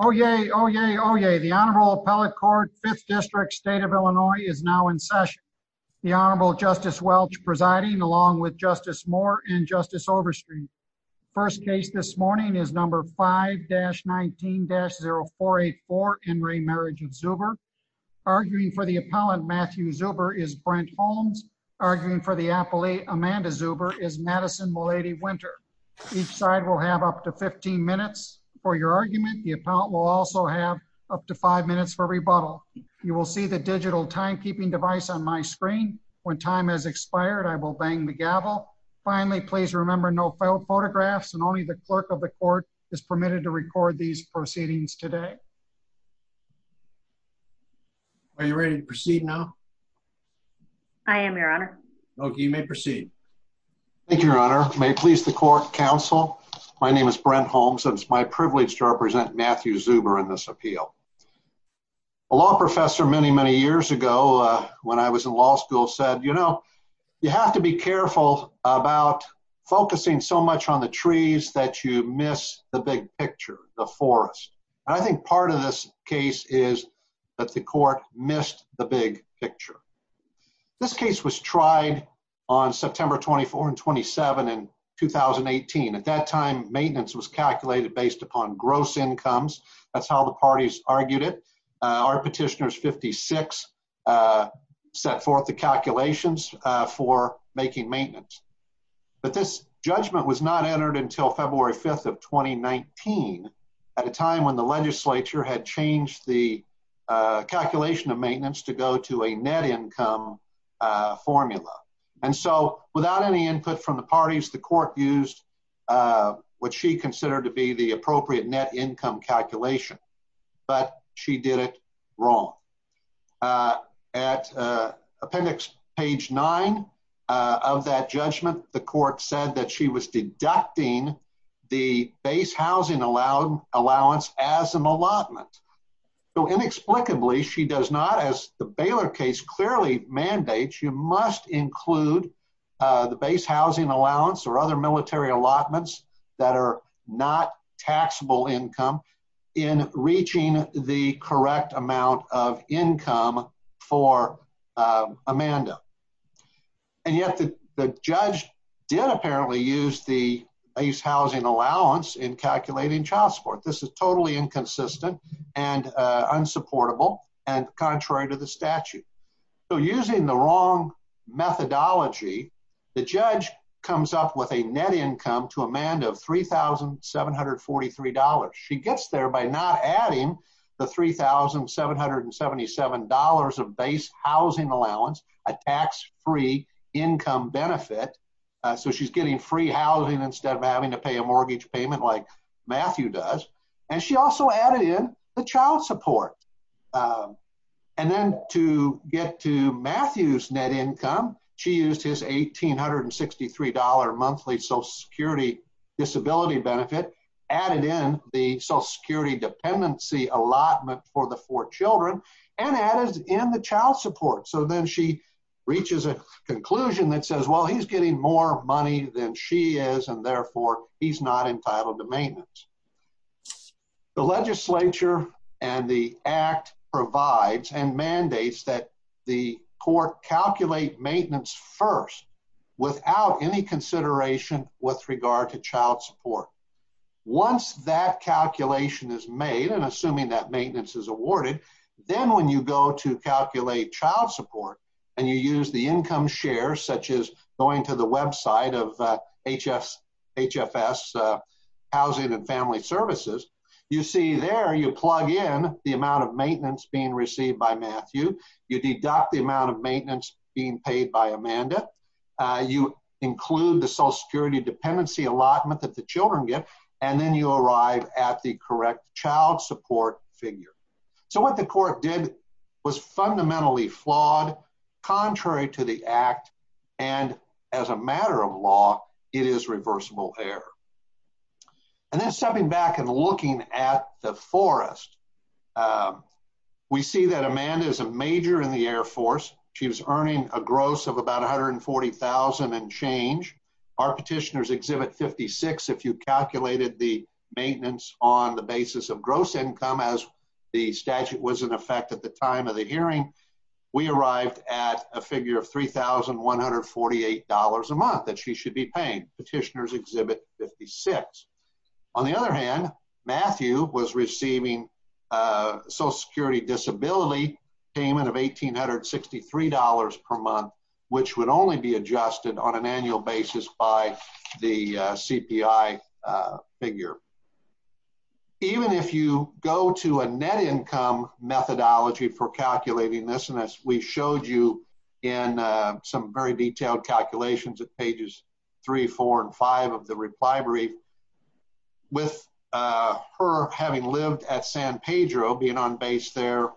Oh, yay. Oh, yay. Oh, yay. The Honorable Appellate Court, 5th District, State of Illinois is now in session. The Honorable Justice Welch presiding along with Justice Moore and Justice Overstreet. First case this morning is number 5-19-0484 in re Marriage of Zuber. Arguing for the appellant, Matthew Zuber, is Brent Holmes. Arguing for the appellee, Amanda Zuber, is Madison Mulady Winter. Each side will have up to 15 minutes for your argument. The appellant will also have up to five minutes for rebuttal. You will see the digital timekeeping device on my screen. When time has expired, I will bang the gavel. Finally, please remember no photographs and only the clerk of the court is permitted to record these proceedings today. Are you ready to proceed now? I am, Your Honor. Okay, you may proceed. Thank you, Your Honor. May it please the court, counsel. My name is Brent Holmes. It's my privilege to represent Matthew Zuber in this appeal. A law professor many, many years ago when I was in law school said, you know, you have to be careful about focusing so much on the trees that you miss the big picture, the forest. And I think part of this case is that the court missed the big picture. This case was tried on September 24 and 27 in 2018. At that time, maintenance was calculated based upon gross incomes. That's how the parties argued it. Our petitioners, 56, set forth the calculations for making maintenance. But this judgment was not entered until February 5th of 2019 at a time when the legislature had changed the calculation of maintenance to go to a net income formula. And so without any input from the parties, the court used what she considered to be the appropriate net income calculation. But she did it wrong. At appendix page nine of that judgment, the court said that she was deducting the base housing allowance as an allotment. So inexplicably, she does not, as the Baylor case clearly mandates, she must include the base housing allowance or other military allotments that are not taxable income in reaching the correct amount of income for Amanda. And yet the judge did apparently use the base housing allowance in calculating child support. This is totally inconsistent and unsupportable and contrary to the statute. So using the wrong methodology, the judge comes up with a net income to Amanda of $3,743. She gets there by not adding the $3,777 of base housing allowance, a tax free income benefit. So she's getting free housing instead of having to pay a mortgage payment like Matthew does. And she also added in the child support. And then to get to Matthew's net income, she used his $1,863 monthly social security disability benefit, added in the social security dependency allotment for the four children, and added in the child support. So then she reaches a conclusion that says, well, he's getting more money than she is, and therefore he's not entitled to maintenance. The legislature and the act provides and mandates that the court calculate maintenance first without any consideration with regard to child support. Once that calculation is made, and assuming that maintenance is awarded, then when you go to calculate child support, and you use the income share, such as going to the website of HFS Housing and Family Services, you see there you plug in the amount of maintenance being received by Matthew, you deduct the amount of maintenance being paid by Amanda, you include the social security dependency allotment that the children get, and then you arrive at the correct child support figure. So what the court did was fundamentally flawed, contrary to the act, and as a matter of law, it is reversible error. And then stepping back and looking at the forest, we see that Amanda is a major in the Air Force. She was earning a gross of about $140,000 and change. Our petitioners 56, if you calculated the maintenance on the basis of gross income as the statute was in effect at the time of the hearing, we arrived at a figure of $3,148 a month that she should be paying, petitioners exhibit 56. On the other hand, Matthew was receiving social security disability payment of $1,863 per month, which would only be adjusted on an annual basis by the CPI figure. Even if you go to a net income methodology for calculating this, and as we showed you in some very detailed calculations at pages three, four and five of the reply brief, with her having lived at San Pedro being on base there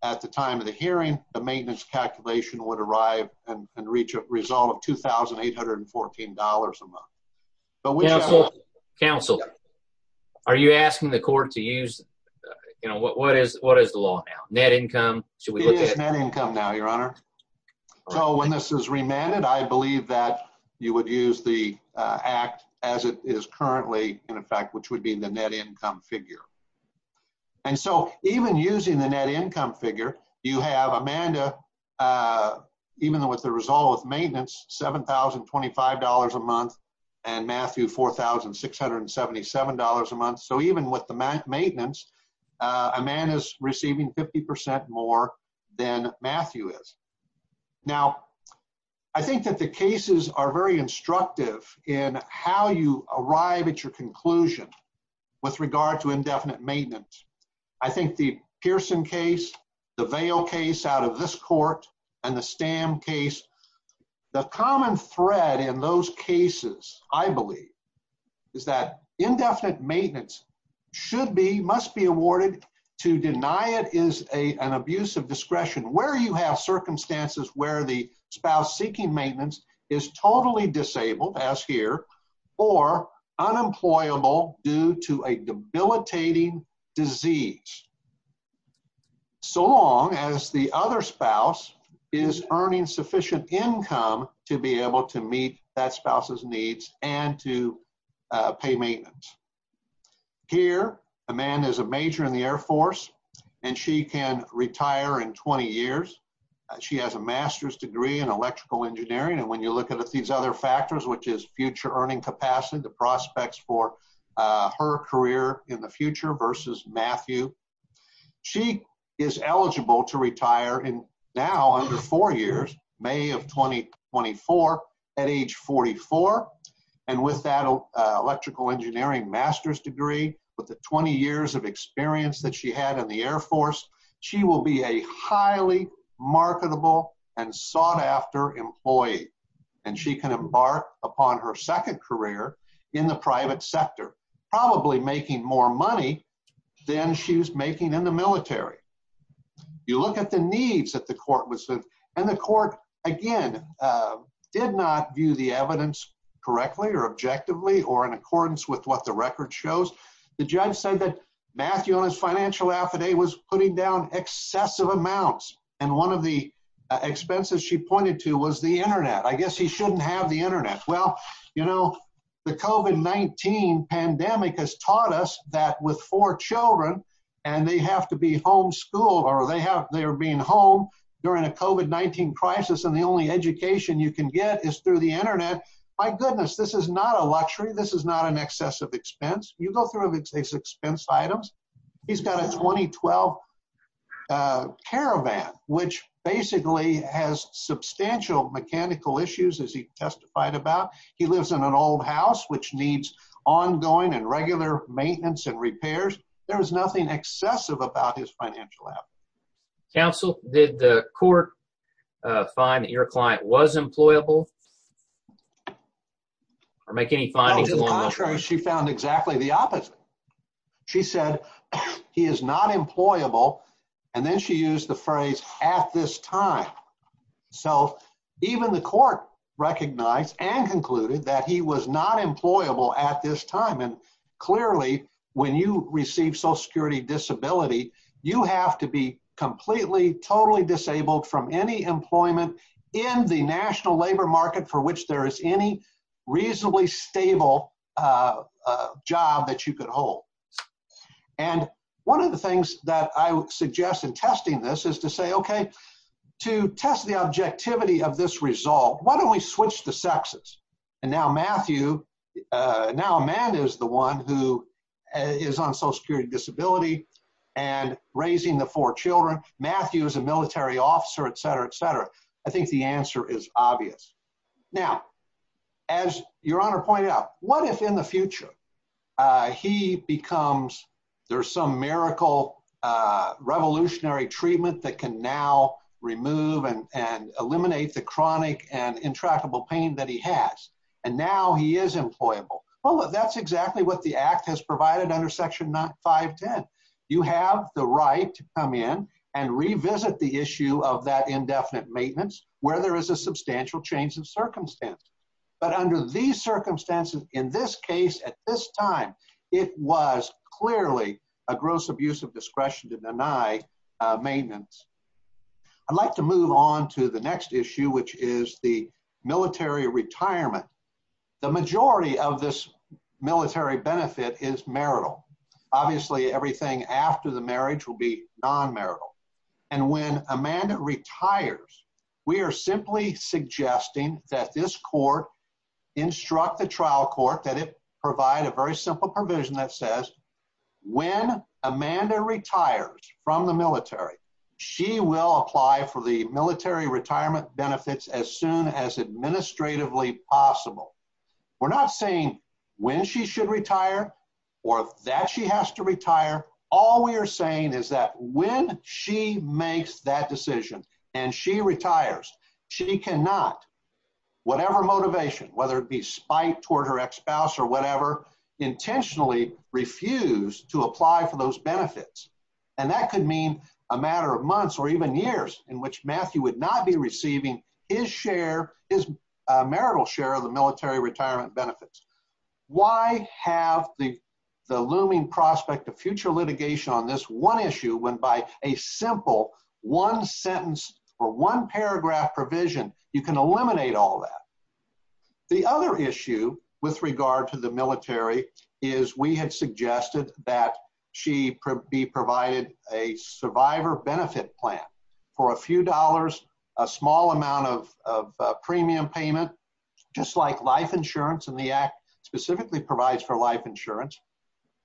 at the time of the hearing, the maintenance calculation would arrive and reach a result of $2,814 a month. Counsel, are you asking the court to use, what is the law now? Net income? It is net income now, your honor. So when this is remanded, I believe that you would use the as it is currently in effect, which would be the net income figure. And so even using the net income figure, you have Amanda, even with the result of maintenance, $7,025 a month and Matthew $4,677 a month. So even with the maintenance, a man is receiving 50% more than Matthew is. Now, I think that the cases are very instructive in how you arrive at your conclusion with regard to indefinite maintenance. I think the Pearson case, the Vail case out of this court and the Stam case, the common thread in those cases, I believe is that indefinite maintenance should be, must be awarded to deny it is an abuse of discretion where you have circumstances where the spouse seeking maintenance is totally disabled as here or unemployable due to a debilitating disease. So long as the other spouse is earning sufficient income to be able to meet that spouse's needs and to pay maintenance. Here, Amanda is a major in the Air Force and she can retire in 20 years. She has a master's degree in electrical engineering. And when you look at these other factors, which is future earning capacity, the prospects for her career in the future versus Matthew, she is eligible to retire in now under four years, May of 2024 at age 44. And with that electrical engineering master's degree, with the 20 years of experience that had in the Air Force, she will be a highly marketable and sought after employee. And she can embark upon her second career in the private sector, probably making more money than she was making in the military. You look at the needs that the court was, and the court again, did not view the evidence correctly or objectively or in accordance with what the record shows. The judge said that Matthew on his financial affidavit was putting down excessive amounts. And one of the expenses she pointed to was the internet. I guess he shouldn't have the internet. Well, you know, the COVID-19 pandemic has taught us that with four children, and they have to be homeschooled or they have they're being home during a COVID-19 crisis, and the only education you can get is through the internet. My goodness, this is not a luxury. This is not an excessive expense. You go through his expense items. He's got a 2012 caravan, which basically has substantial mechanical issues, as he testified about. He lives in an old house, which needs ongoing and regular maintenance and repairs. There was nothing excessive about his financial affidavit. Counsel, did the court find that your client was employable? Or make any findings along those lines? No, to the contrary, she found exactly the opposite. She said, he is not employable. And then she used the phrase, at this time. So even the court recognized and concluded that he was not employable at this time. And clearly, when you receive social security disability, you have to be completely, totally disabled from any employment in the National Labor Market for which there is any reasonably stable job that you could hold. And one of the things that I would suggest in testing this is to say, okay, to test the objectivity of this result, why don't we switch the sexes? And now Matthew, now Amanda is the one who is on social security disability, and raising the four children, Matthew is a military officer, etc, etc. I think the answer is obvious. Now, as Your Honor pointed out, what if in the future, he becomes, there's some miracle, revolutionary treatment that can now remove and eliminate the chronic and intractable pain that he has. And now he is employable. Well, that's exactly what the act has provided under Section 510. You have the right to come in and revisit the issue of that indefinite maintenance, where there is a substantial change in circumstance. But under these circumstances, in this case, at this time, it was clearly a gross abuse of discretion to deny maintenance. I'd like to move on to the next issue, which is the military retirement. The majority of this military benefit is marital. Obviously, everything after the marriage will be non-marital. And when Amanda retires, we are simply suggesting that this court instruct the trial court that it provide a very simple provision that says, when Amanda retires from the military, she will apply for the military retirement benefits as soon as administratively possible. We're not saying when she should retire or that she has to retire. All we are saying is that when she makes that decision and she retires, she cannot, whatever motivation, whether it be spite toward her ex-spouse or whatever, intentionally refuse to apply for those benefits. And that could mean a matter of months or even years in which Matthew would not be receiving his share, his marital share of the military retirement benefits. Why have the looming prospect of future litigation on this one issue, when by a simple one sentence or one paragraph provision, you can eliminate all that? The other issue with regard to the military is we had suggested that she be provided a survivor benefit plan for a few dollars, a small amount of premium payment, just like life insurance in the act specifically provides for life insurance,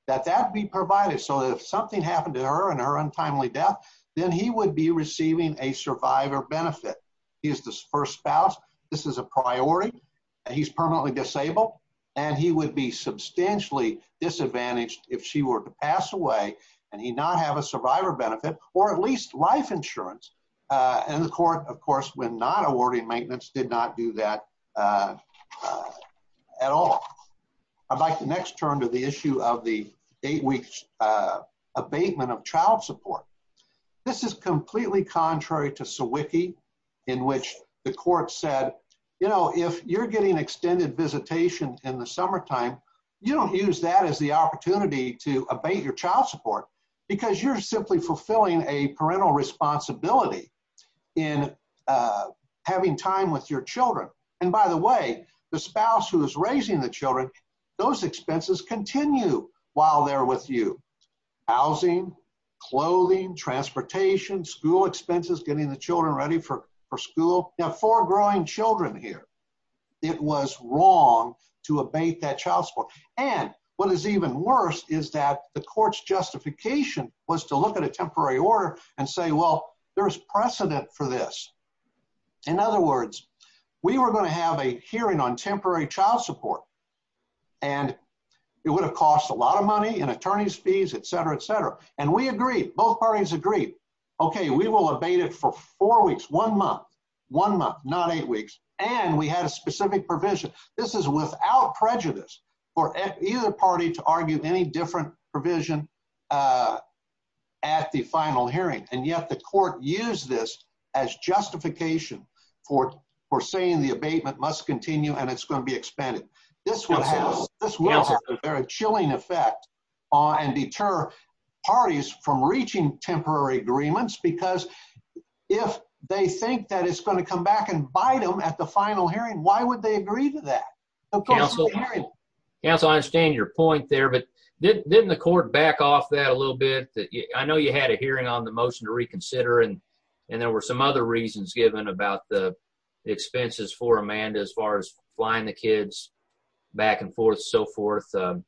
that that be provided so that if something happened to her and her untimely death, then he would be receiving a survivor benefit. He is the first spouse. This is a priority and he's permanently disabled and he would be substantially disadvantaged if she were to pass away and he not have a survivor benefit or at least life insurance. And the court, of course, when not awarding maintenance, did not do that at all. I'd like to next turn to the issue of the eight weeks abatement of child support. This is completely contrary to Sawicki, in which the court said, you know, if you're getting extended visitation in the summertime, you don't use that as the opportunity to abate your child support because you're simply fulfilling a parental responsibility in having time with your children. And by the way, the spouse who is raising the children, those expenses continue while they're with you. Housing, clothing, transportation, school expenses, getting the wrong to abate that child support. And what is even worse is that the court's justification was to look at a temporary order and say, well, there is precedent for this. In other words, we were going to have a hearing on temporary child support and it would have cost a lot of money in attorney's fees, et cetera, et cetera. And we agree. Both parties agree. OK, we will abate it for four weeks, one month, one month, not eight weeks. And we had a specific provision. This is without prejudice for either party to argue any different provision at the final hearing. And yet the court used this as justification for saying the abatement must continue and it's going to be expanded. This will have a very chilling effect and deter parties from reaching temporary agreements because if they think that it's going to come back and bite them at the final hearing, why would they agree to that? Counsel, I understand your point there, but didn't the court back off that a little bit? I know you had a hearing on the motion to reconsider and there were some other reasons given about the expenses for Amanda as far as flying the kids back and forth and so forth. And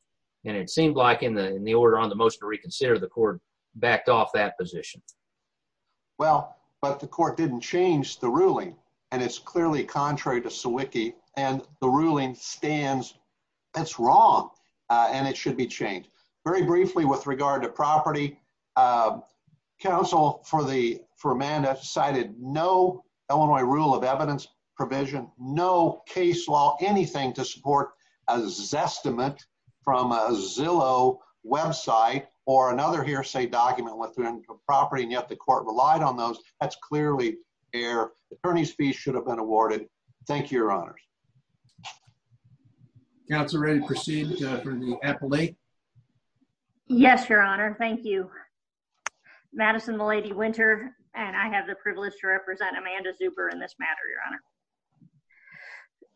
it seemed like in the order on the motion to reconsider, the court backed off that position. Well, but the court didn't change the ruling. And it's clearly contrary to Sawicki and the ruling stands. It's wrong and it should be changed. Very briefly with regard to property, counsel for Amanda cited no Illinois rule of evidence provision, no case law, anything to support a Zestimate from a Zillow website or another hearsay document within the property. And yet the court relied on those. That's clearly there. Attorney's fees should have been awarded. Thank you, your honors. Counsel, ready to proceed for the appellate? Yes, your honor. Thank you, Madison, the lady winter. And I have the privilege to represent Amanda Zuber in this matter, your honor.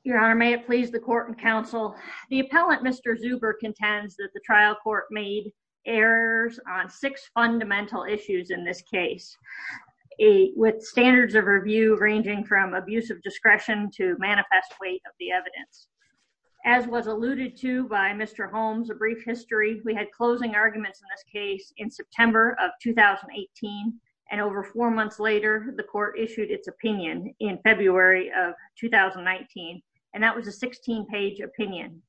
Your honor, may it please the court and counsel. The appellant, Mr. Zuber contends that the trial court made errors on six fundamental issues in this case, a with standards of review, ranging from abuse of discretion to manifest weight of the evidence, as was alluded to by Mr. Holmes, a brief history. We had closing arguments in this and over four months later, the court issued its opinion in February of 2019. And that was a 16 page opinion.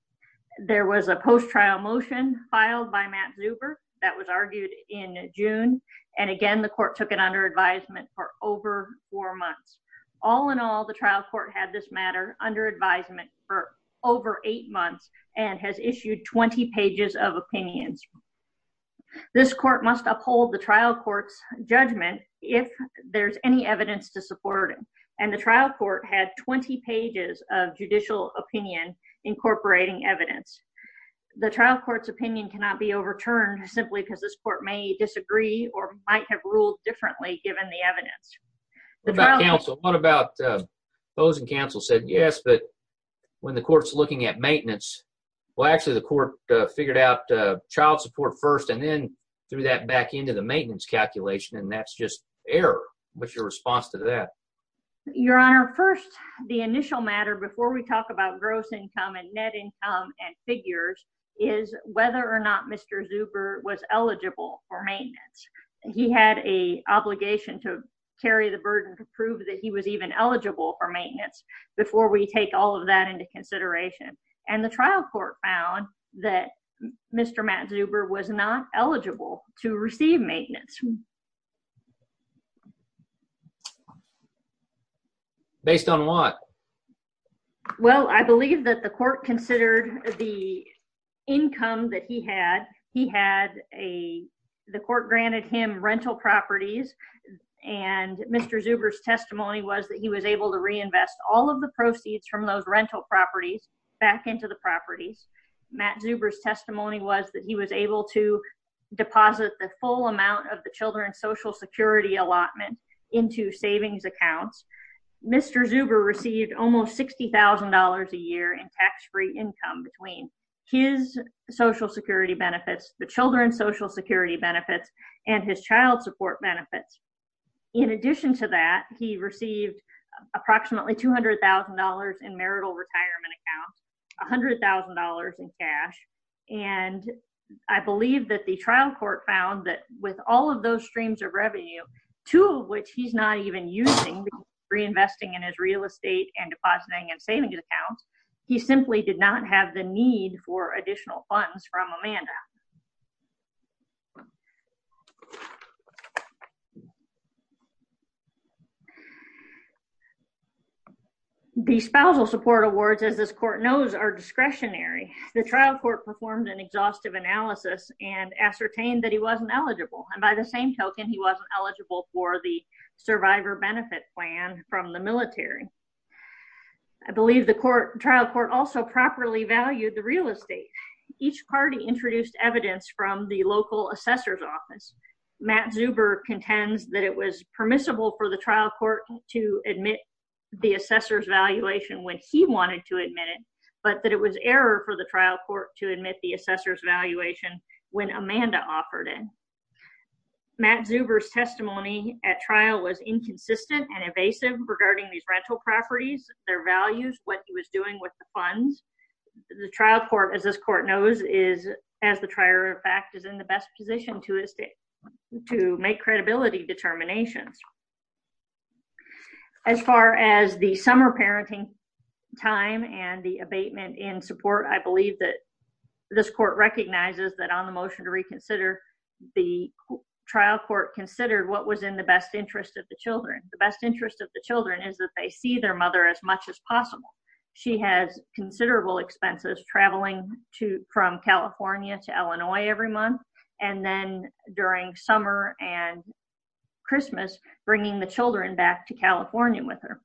There was a post trial motion filed by Matt Zuber that was argued in June. And again, the court took it under advisement for over four months. All in all, the trial court had this matter under advisement for over eight months and has issued 20 pages of opinions. This court must uphold the trial court's judgment if there's any evidence to support it. And the trial court had 20 pages of judicial opinion, incorporating evidence. The trial court's opinion cannot be overturned simply because this court may disagree or might have ruled differently given the evidence. What about counsel? What about opposing counsel said yes, but when the court's looking at maintenance, well, actually, the court figured out child support first and then threw that back into the maintenance calculation. And that's just error. What's your response to that? Your Honor, first, the initial matter before we talk about gross income and net income and figures is whether or not Mr. Zuber was eligible for maintenance. He had a obligation to carry the burden to prove that he was even eligible for maintenance before we take all of that into consideration. And the trial court found that Mr. Matt Zuber was not eligible to receive maintenance. Based on what? Well, I believe that the court considered the income that he had. He had a, the court granted him rental properties and Mr. Zuber's testimony was that he was able to reinvest all of the proceeds from those rental properties back into the properties. Matt Zuber's testimony was that he was able to deposit the full amount of the children's social security allotment into savings accounts. Mr. Zuber received almost $60,000 a year in tax-free income between his social security benefits, the children's social security benefits, and his child support benefits. In addition to that, he received approximately $200,000 in marital retirement accounts, $100,000 in cash, and I believe that the trial court found that with all of those streams of revenue, two of which he's not even using, reinvesting in his real estate and depositing in savings accounts, he simply did not have the need for additional funds from Amanda. The spousal support awards, as this court knows, are discretionary. The trial court performed an exhaustive analysis and ascertained that he wasn't eligible, and by the same token, he wasn't eligible for the survivor benefit plan from the military. I believe the trial court also properly valued the real estate. Each party introduced evidence from the local assessor's office. Matt Zuber contends that it was permissible for the trial court to admit the assessor's valuation when he wanted to admit it, but that it was error for the trial court to admit the assessor's valuation when Amanda offered it. Matt Zuber's testimony at trial was inconsistent and evasive regarding these rental properties, their values, what he was doing with the funds. The trial court, as this court knows, is, as the trier of fact, is in the best position to make credibility determinations. As far as the summer parenting time and the abatement in support, I believe that this court recognizes that on the motion to reconsider, the trial court considered what was in the best interest of the children. The best interest of the children is that they see their mother as much as possible. She has considerable expenses traveling from California to Illinois every month, and then during summer and Christmas, bringing the children back to California with her.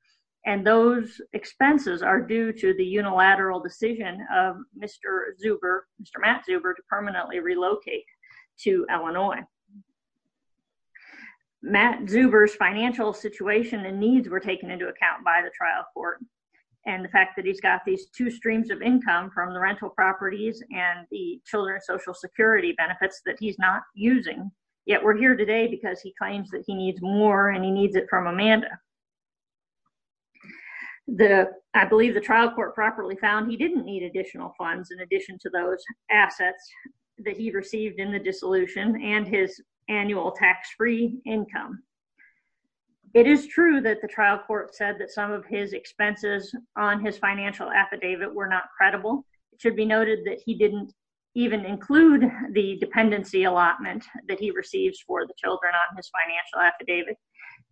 And those expenses are due to the unilateral decision of Mr. Zuber, Mr. Matt Zuber, to permanently relocate to Illinois. Matt Zuber's financial situation and needs were taken into account by the trial court, and the fact that he's got these two streams of income from the rental properties and the children's social security benefits that he's not using, yet we're here today because he claims that he needs more, and he needs it from Amanda. The, I believe the trial court properly found he didn't need additional funds in addition to those assets that he received in the dissolution and his annual tax-free income. It is true that the trial court said that some of his expenses on his financial affidavit were not credible. It should be noted that he didn't even include the dependency allotment that he receives for the children on his financial affidavit.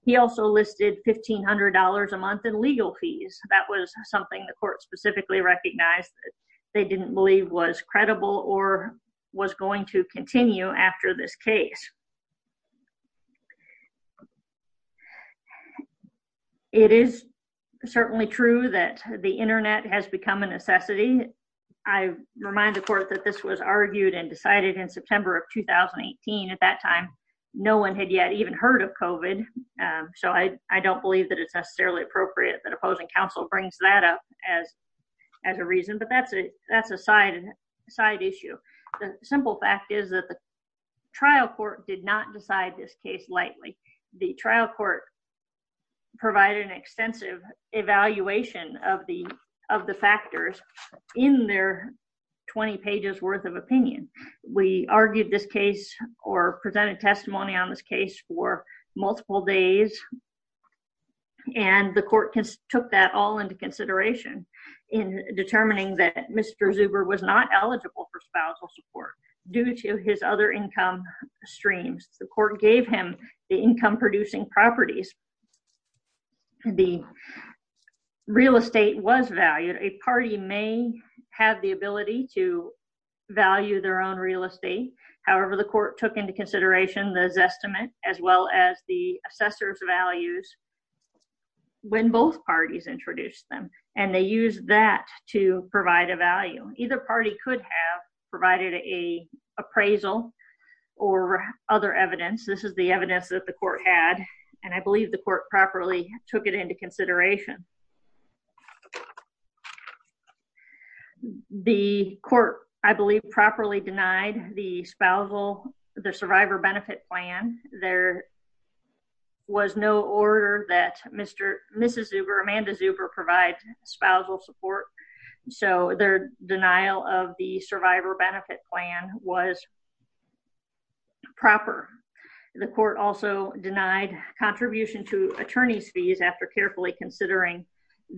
He also listed $1,500 a month in legal fees. That was something the court specifically recognized that they didn't believe was credible or was going to continue after this case. It is certainly true that the internet has become a necessity. I remind the court that this was argued and decided in September of 2018. At that time, no one had yet even heard of COVID, so I don't want to give that up as a reason, but that's a side issue. The simple fact is that the trial court did not decide this case lightly. The trial court provided an extensive evaluation of the factors in their 20 pages worth of opinion. We argued this case or presented testimony on this case. The court took that all into consideration in determining that Mr. Zuber was not eligible for spousal support due to his other income streams. The court gave him the income-producing properties. The real estate was valued. A party may have the ability to value their own real estate. However, the court took into consideration the Zestimate as well as the assessor's values when both parties introduced them, and they used that to provide a value. Either party could have provided an appraisal or other evidence. This is the evidence that the court had, and I believe the court properly took it into consideration. The court, I believe, properly denied the survivor benefit plan. There was no order that Mr. and Mrs. Zuber, Amanda Zuber, provide spousal support, so their denial of the survivor benefit plan was proper. The court also denied contribution to attorney's fees after carefully considering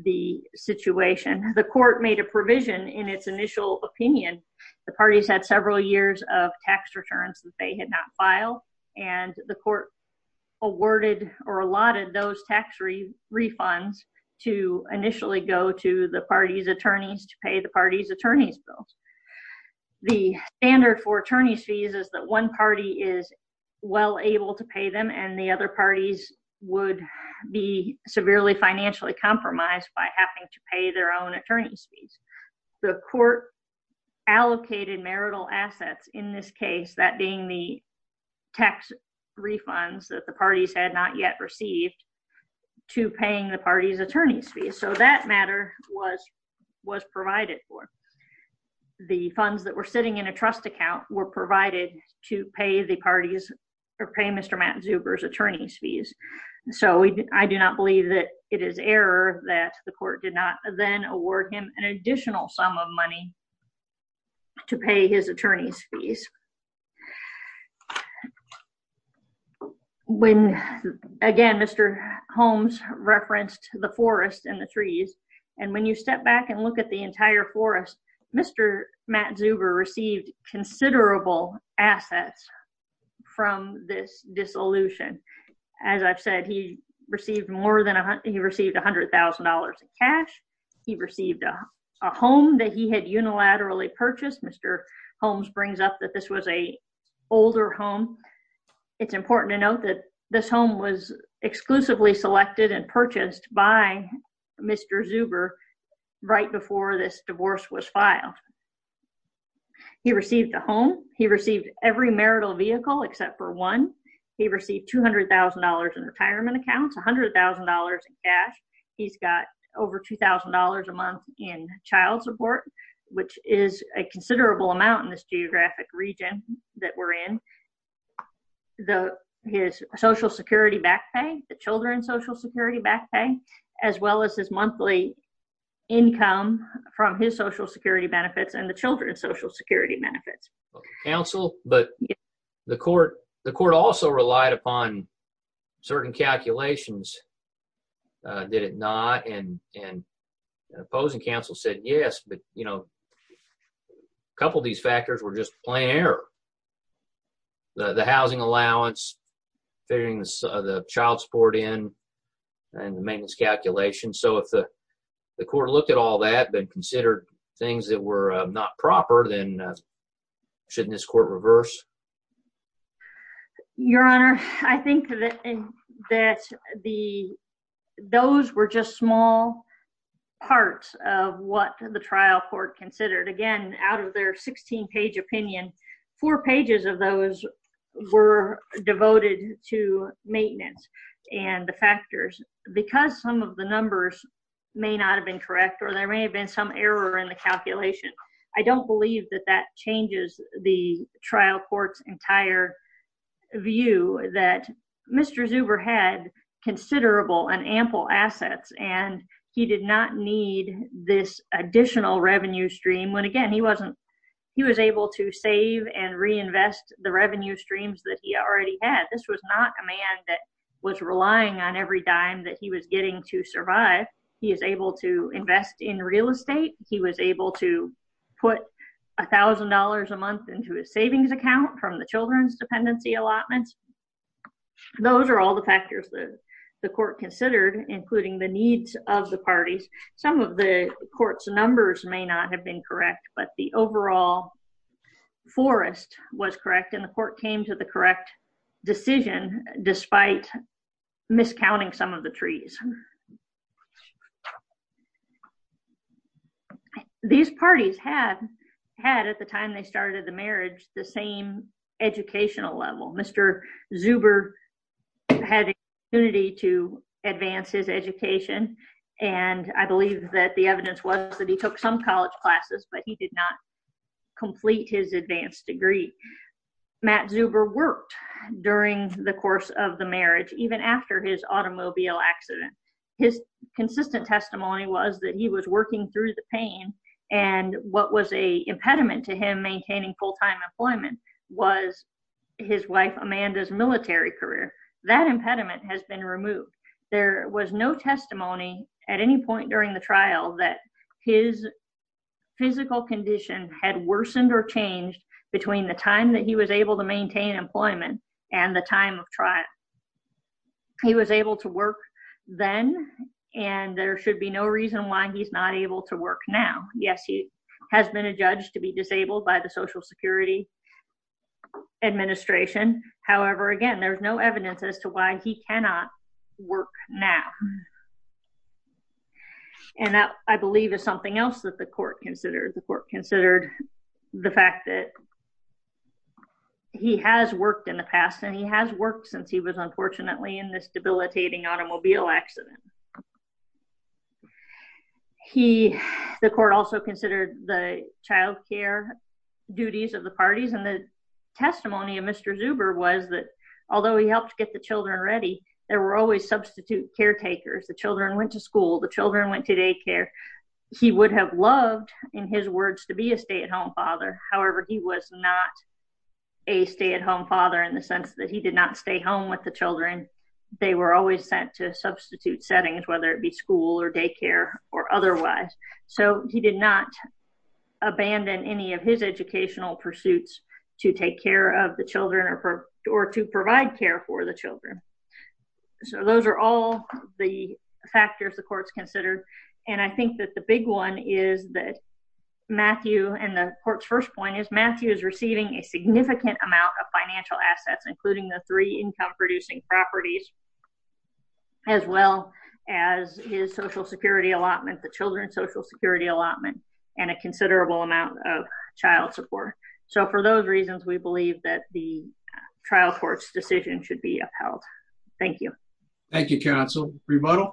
the situation. The court made a provision in its initial opinion. The parties had several years of tax returns that they had not filed, and the court awarded or allotted those tax refunds to initially go to the party's attorneys to pay the party's attorney's bills. The standard for attorney's fees is that one party is well able to pay them, and the other parties would be severely financially compromised by having to pay their own attorney's fees. The court allocated marital assets, in this case, that being the tax refunds that the parties had not yet received, to paying the party's attorney's fees, so that matter was provided for. The funds that were sitting in a trust account were provided to pay Mr. Matt Zuber's attorney's fees, so I do not believe that it is error that the court did not then award him an additional sum of money to pay his attorney's fees. When, again, Mr. Holmes referenced the forest and the trees, and when you step back and look at the entire forest, Mr. Matt Zuber received considerable assets from this dissolution. As I've said, he received $100,000 in cash. He received a home that he had unilaterally purchased. Mr. Holmes brings up that this was an older home. It's important to note that this home was exclusively selected and purchased by Mr. Zuber right before this divorce was filed. He received a home. He received every marital vehicle except for one. He received $200,000 in retirement accounts, $100,000 in cash. He's got over $2,000 a month in child support, which is a considerable amount in this geographic region that we're in. His social security back pay, the children's social security back pay, as well as his monthly income from his social security benefits and the children's social security benefits. Counsel, but the court also relied upon certain calculations, did it not? And opposing counsel said yes, but, you know, a couple of these factors were just plain error. The housing allowance, figuring the child support in, and the maintenance calculation. So if the court looked at all that, but considered things that were not proper, then shouldn't this court reverse? Your Honor, I think that the, those were just small parts of what the trial court considered. Again, out of their 16-page opinion, four pages of those were devoted to maintenance and the factors. Because some of the numbers may not have been correct, or there may have been some error in the calculation. I don't believe that that changes the trial court's entire view that Mr. Zuber had considerable and ample assets, and he did not need this additional revenue stream. When again, he wasn't, he was able to save and reinvest the revenue streams that he already had. This was not a man that was relying on every dime that he was getting to survive. He is able to invest in real estate. He was able to put $1,000 a month into his savings account from the children's dependency allotments. Those are all the factors that the court considered, including the needs of the parties. Some of the court's numbers may not have been correct, but the overall forest was correct, and the court came to the correct decision despite miscounting some of the trees. These parties had, had at the time they started the marriage, the same educational level. Mr. Zuber had an opportunity to advance his education, and I believe that the evidence was that he took some college classes, but he did not complete his advanced degree. Matt Zuber worked during the course of the marriage, even after his automobile accident. His consistent testimony was that he was working through the pain, and what was a impediment to him maintaining full-time employment was his wife Amanda's military career. That impediment has been removed. There was no physical condition had worsened or changed between the time that he was able to maintain employment and the time of trial. He was able to work then, and there should be no reason why he's not able to work now. Yes, he has been adjudged to be disabled by the Social Security Administration. However, again, there's no evidence as to why he cannot work now, and that, I believe, is something else that the court considered. The court considered the fact that he has worked in the past, and he has worked since he was unfortunately in this debilitating automobile accident. He, the court also considered the child care duties of the parties, and the testimony of Mr. Zuber was that, although he helped get the children ready, there were always substitute caretakers. The children went to school. The children went to daycare. He would have loved, in his words, to be a stay-at-home father. However, he was not a stay-at-home father in the sense that he did not stay home with the children. They were always sent to substitute settings, whether it be school or daycare or otherwise, so he did not abandon any of his educational pursuits to take care of the children or to provide care for the children. Those are all the factors the court's considered, and I think that the big one is that Matthew, and the court's first point, is Matthew is receiving a significant amount of financial assets, including the three income-producing properties, as well as his Social Security allotment, the children's Social Security allotment, and a considerable amount of child support. So, for those reasons, we believe that the trial court's decision should be upheld. Thank you. Thank you, counsel. Rebuttal?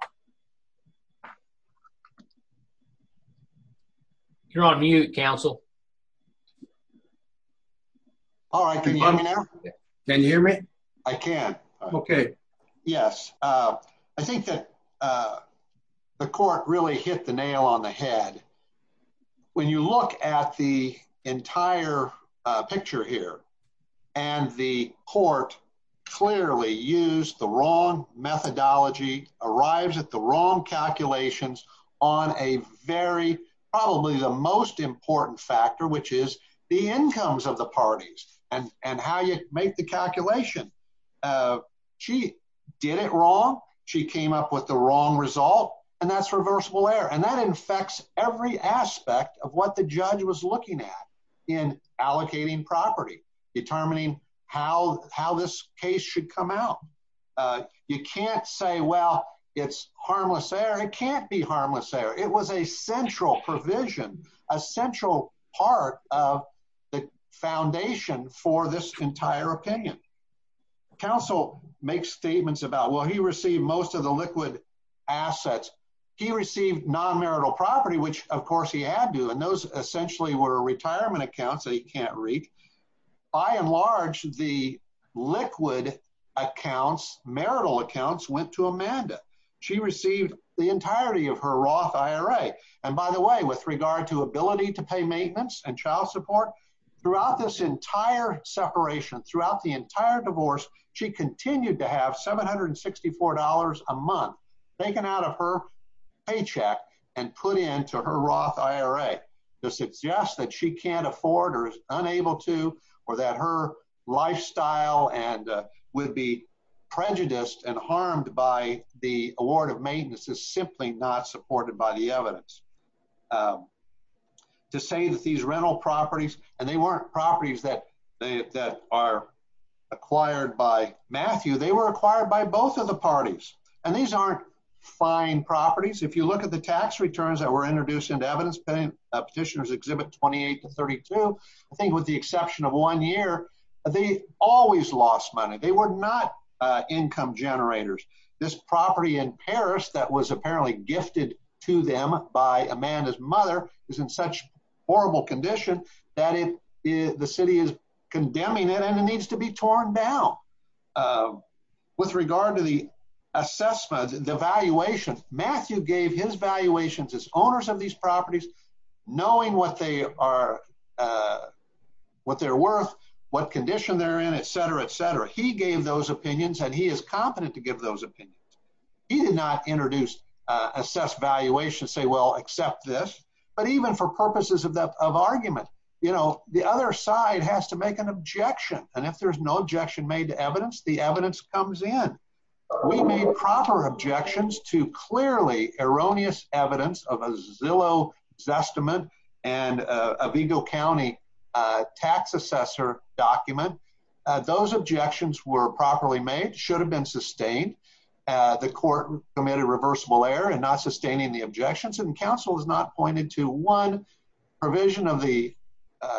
You're on mute, counsel. All right, can you hear me now? Can you hear me? I can. Okay. Yes. I think that the court really hit the nail on the head. When you look at the entire picture here, and the court clearly used the wrong methodology, arrives at the wrong calculations on a very, probably the most important factor, which is the incomes of the parties and how you make the calculation. She did it wrong. She came up with the wrong result, and that's reversible error, and that infects every aspect of what the judge was looking at in allocating property, determining how this case should come out. You can't say, well, it's harmless error. It can't be harmless error. It was a central provision, a central part of the foundation for this entire opinion. Counsel makes statements about, well, he received most of the liquid assets. He received non-marital property, which, of course, he had to, and those essentially were retirement accounts that he can't read. By and large, the liquid accounts, marital accounts, went to Amanda. She received the entirety of her Roth IRA. And by the way, with regard to ability to pay maintenance and child support, throughout this entire separation, throughout the entire divorce, she continued to have $764 a month taken out of her paycheck and put into her Roth IRA to suggest that she can't afford or is unable to or that her lifestyle would be prejudiced and harmed by the award of maintenance is simply not supported by the evidence. To say that these rental properties, and they weren't properties that are acquired by Matthew, they were acquired by both of the parties. And these aren't fine properties. If you look at the tax returns that were introduced into evidence, Petitioners Exhibit 28 to 32, I think with the exception of one year, they always lost money. They were not income generators. This property in Paris that was apparently gifted to them by Amanda's mother is in such horrible condition that the city is condemning it and it needs to be torn down. With regard to the assessment, the valuation, Matthew gave his valuations as owners of these properties, knowing what they are, what they're worth, what condition they're in, etc, etc. He gave those opinions and he is competent to give those opinions. He did not introduce, assess valuation, say, well, accept this. But even for purposes of argument, you know, the other side has to make an objection. And if there's no objection made to evidence, the evidence comes in. We made proper objections to clearly erroneous evidence of a Zillow Zestimate and a Vigo County tax assessor document. Those objections were properly made, should have been sustained. The court committed reversible error in not sustaining the objections and counsel has not pointed to one provision of the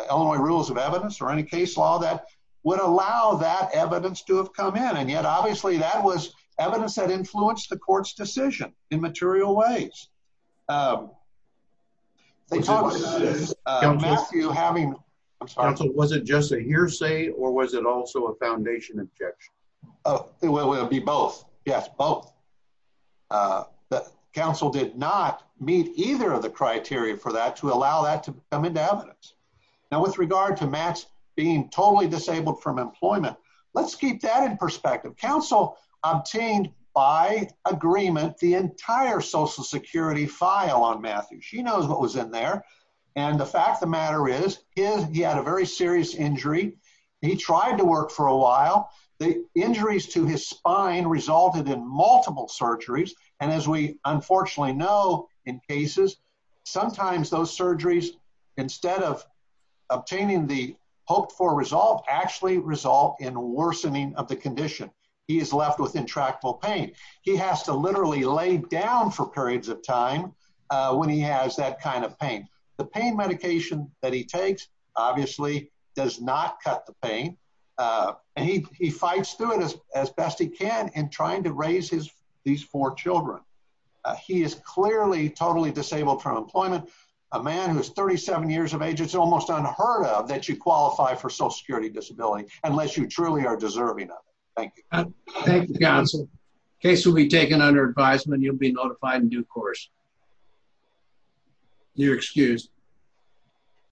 Illinois Rules of Evidence or any case law that would allow that evidence to have come in. And yet, obviously, that was evidence that influenced the court's decision in material ways. Was it just a hearsay or was it also a foundation objection? It would be both. Yes, both. The counsel did not meet either of the criteria for that to allow that to come into evidence. Now, with regard to Matt being totally disabled from employment, let's keep that in perspective. Counsel obtained by agreement the entire Social Security file on Matthew. She knows what was in there. And the fact of the matter is, he had a very serious injury. He tried to work for a while. The injuries to his spine resulted in multiple surgeries. And as we unfortunately know in cases, sometimes those surgeries, instead of obtaining the hoped for result, actually result in worsening of the condition. He is left with intractable pain. He has to literally lay down for periods of time when he has that kind of pain. The pain medication that he takes, obviously, does not cut the pain. And he fights through it as best he can in trying to raise these four children. He is clearly totally disabled from Social Security disability, unless you truly are deserving of it. Thank you. Thank you, counsel. The case will be taken under advisement. You'll be notified in due course. You're excused.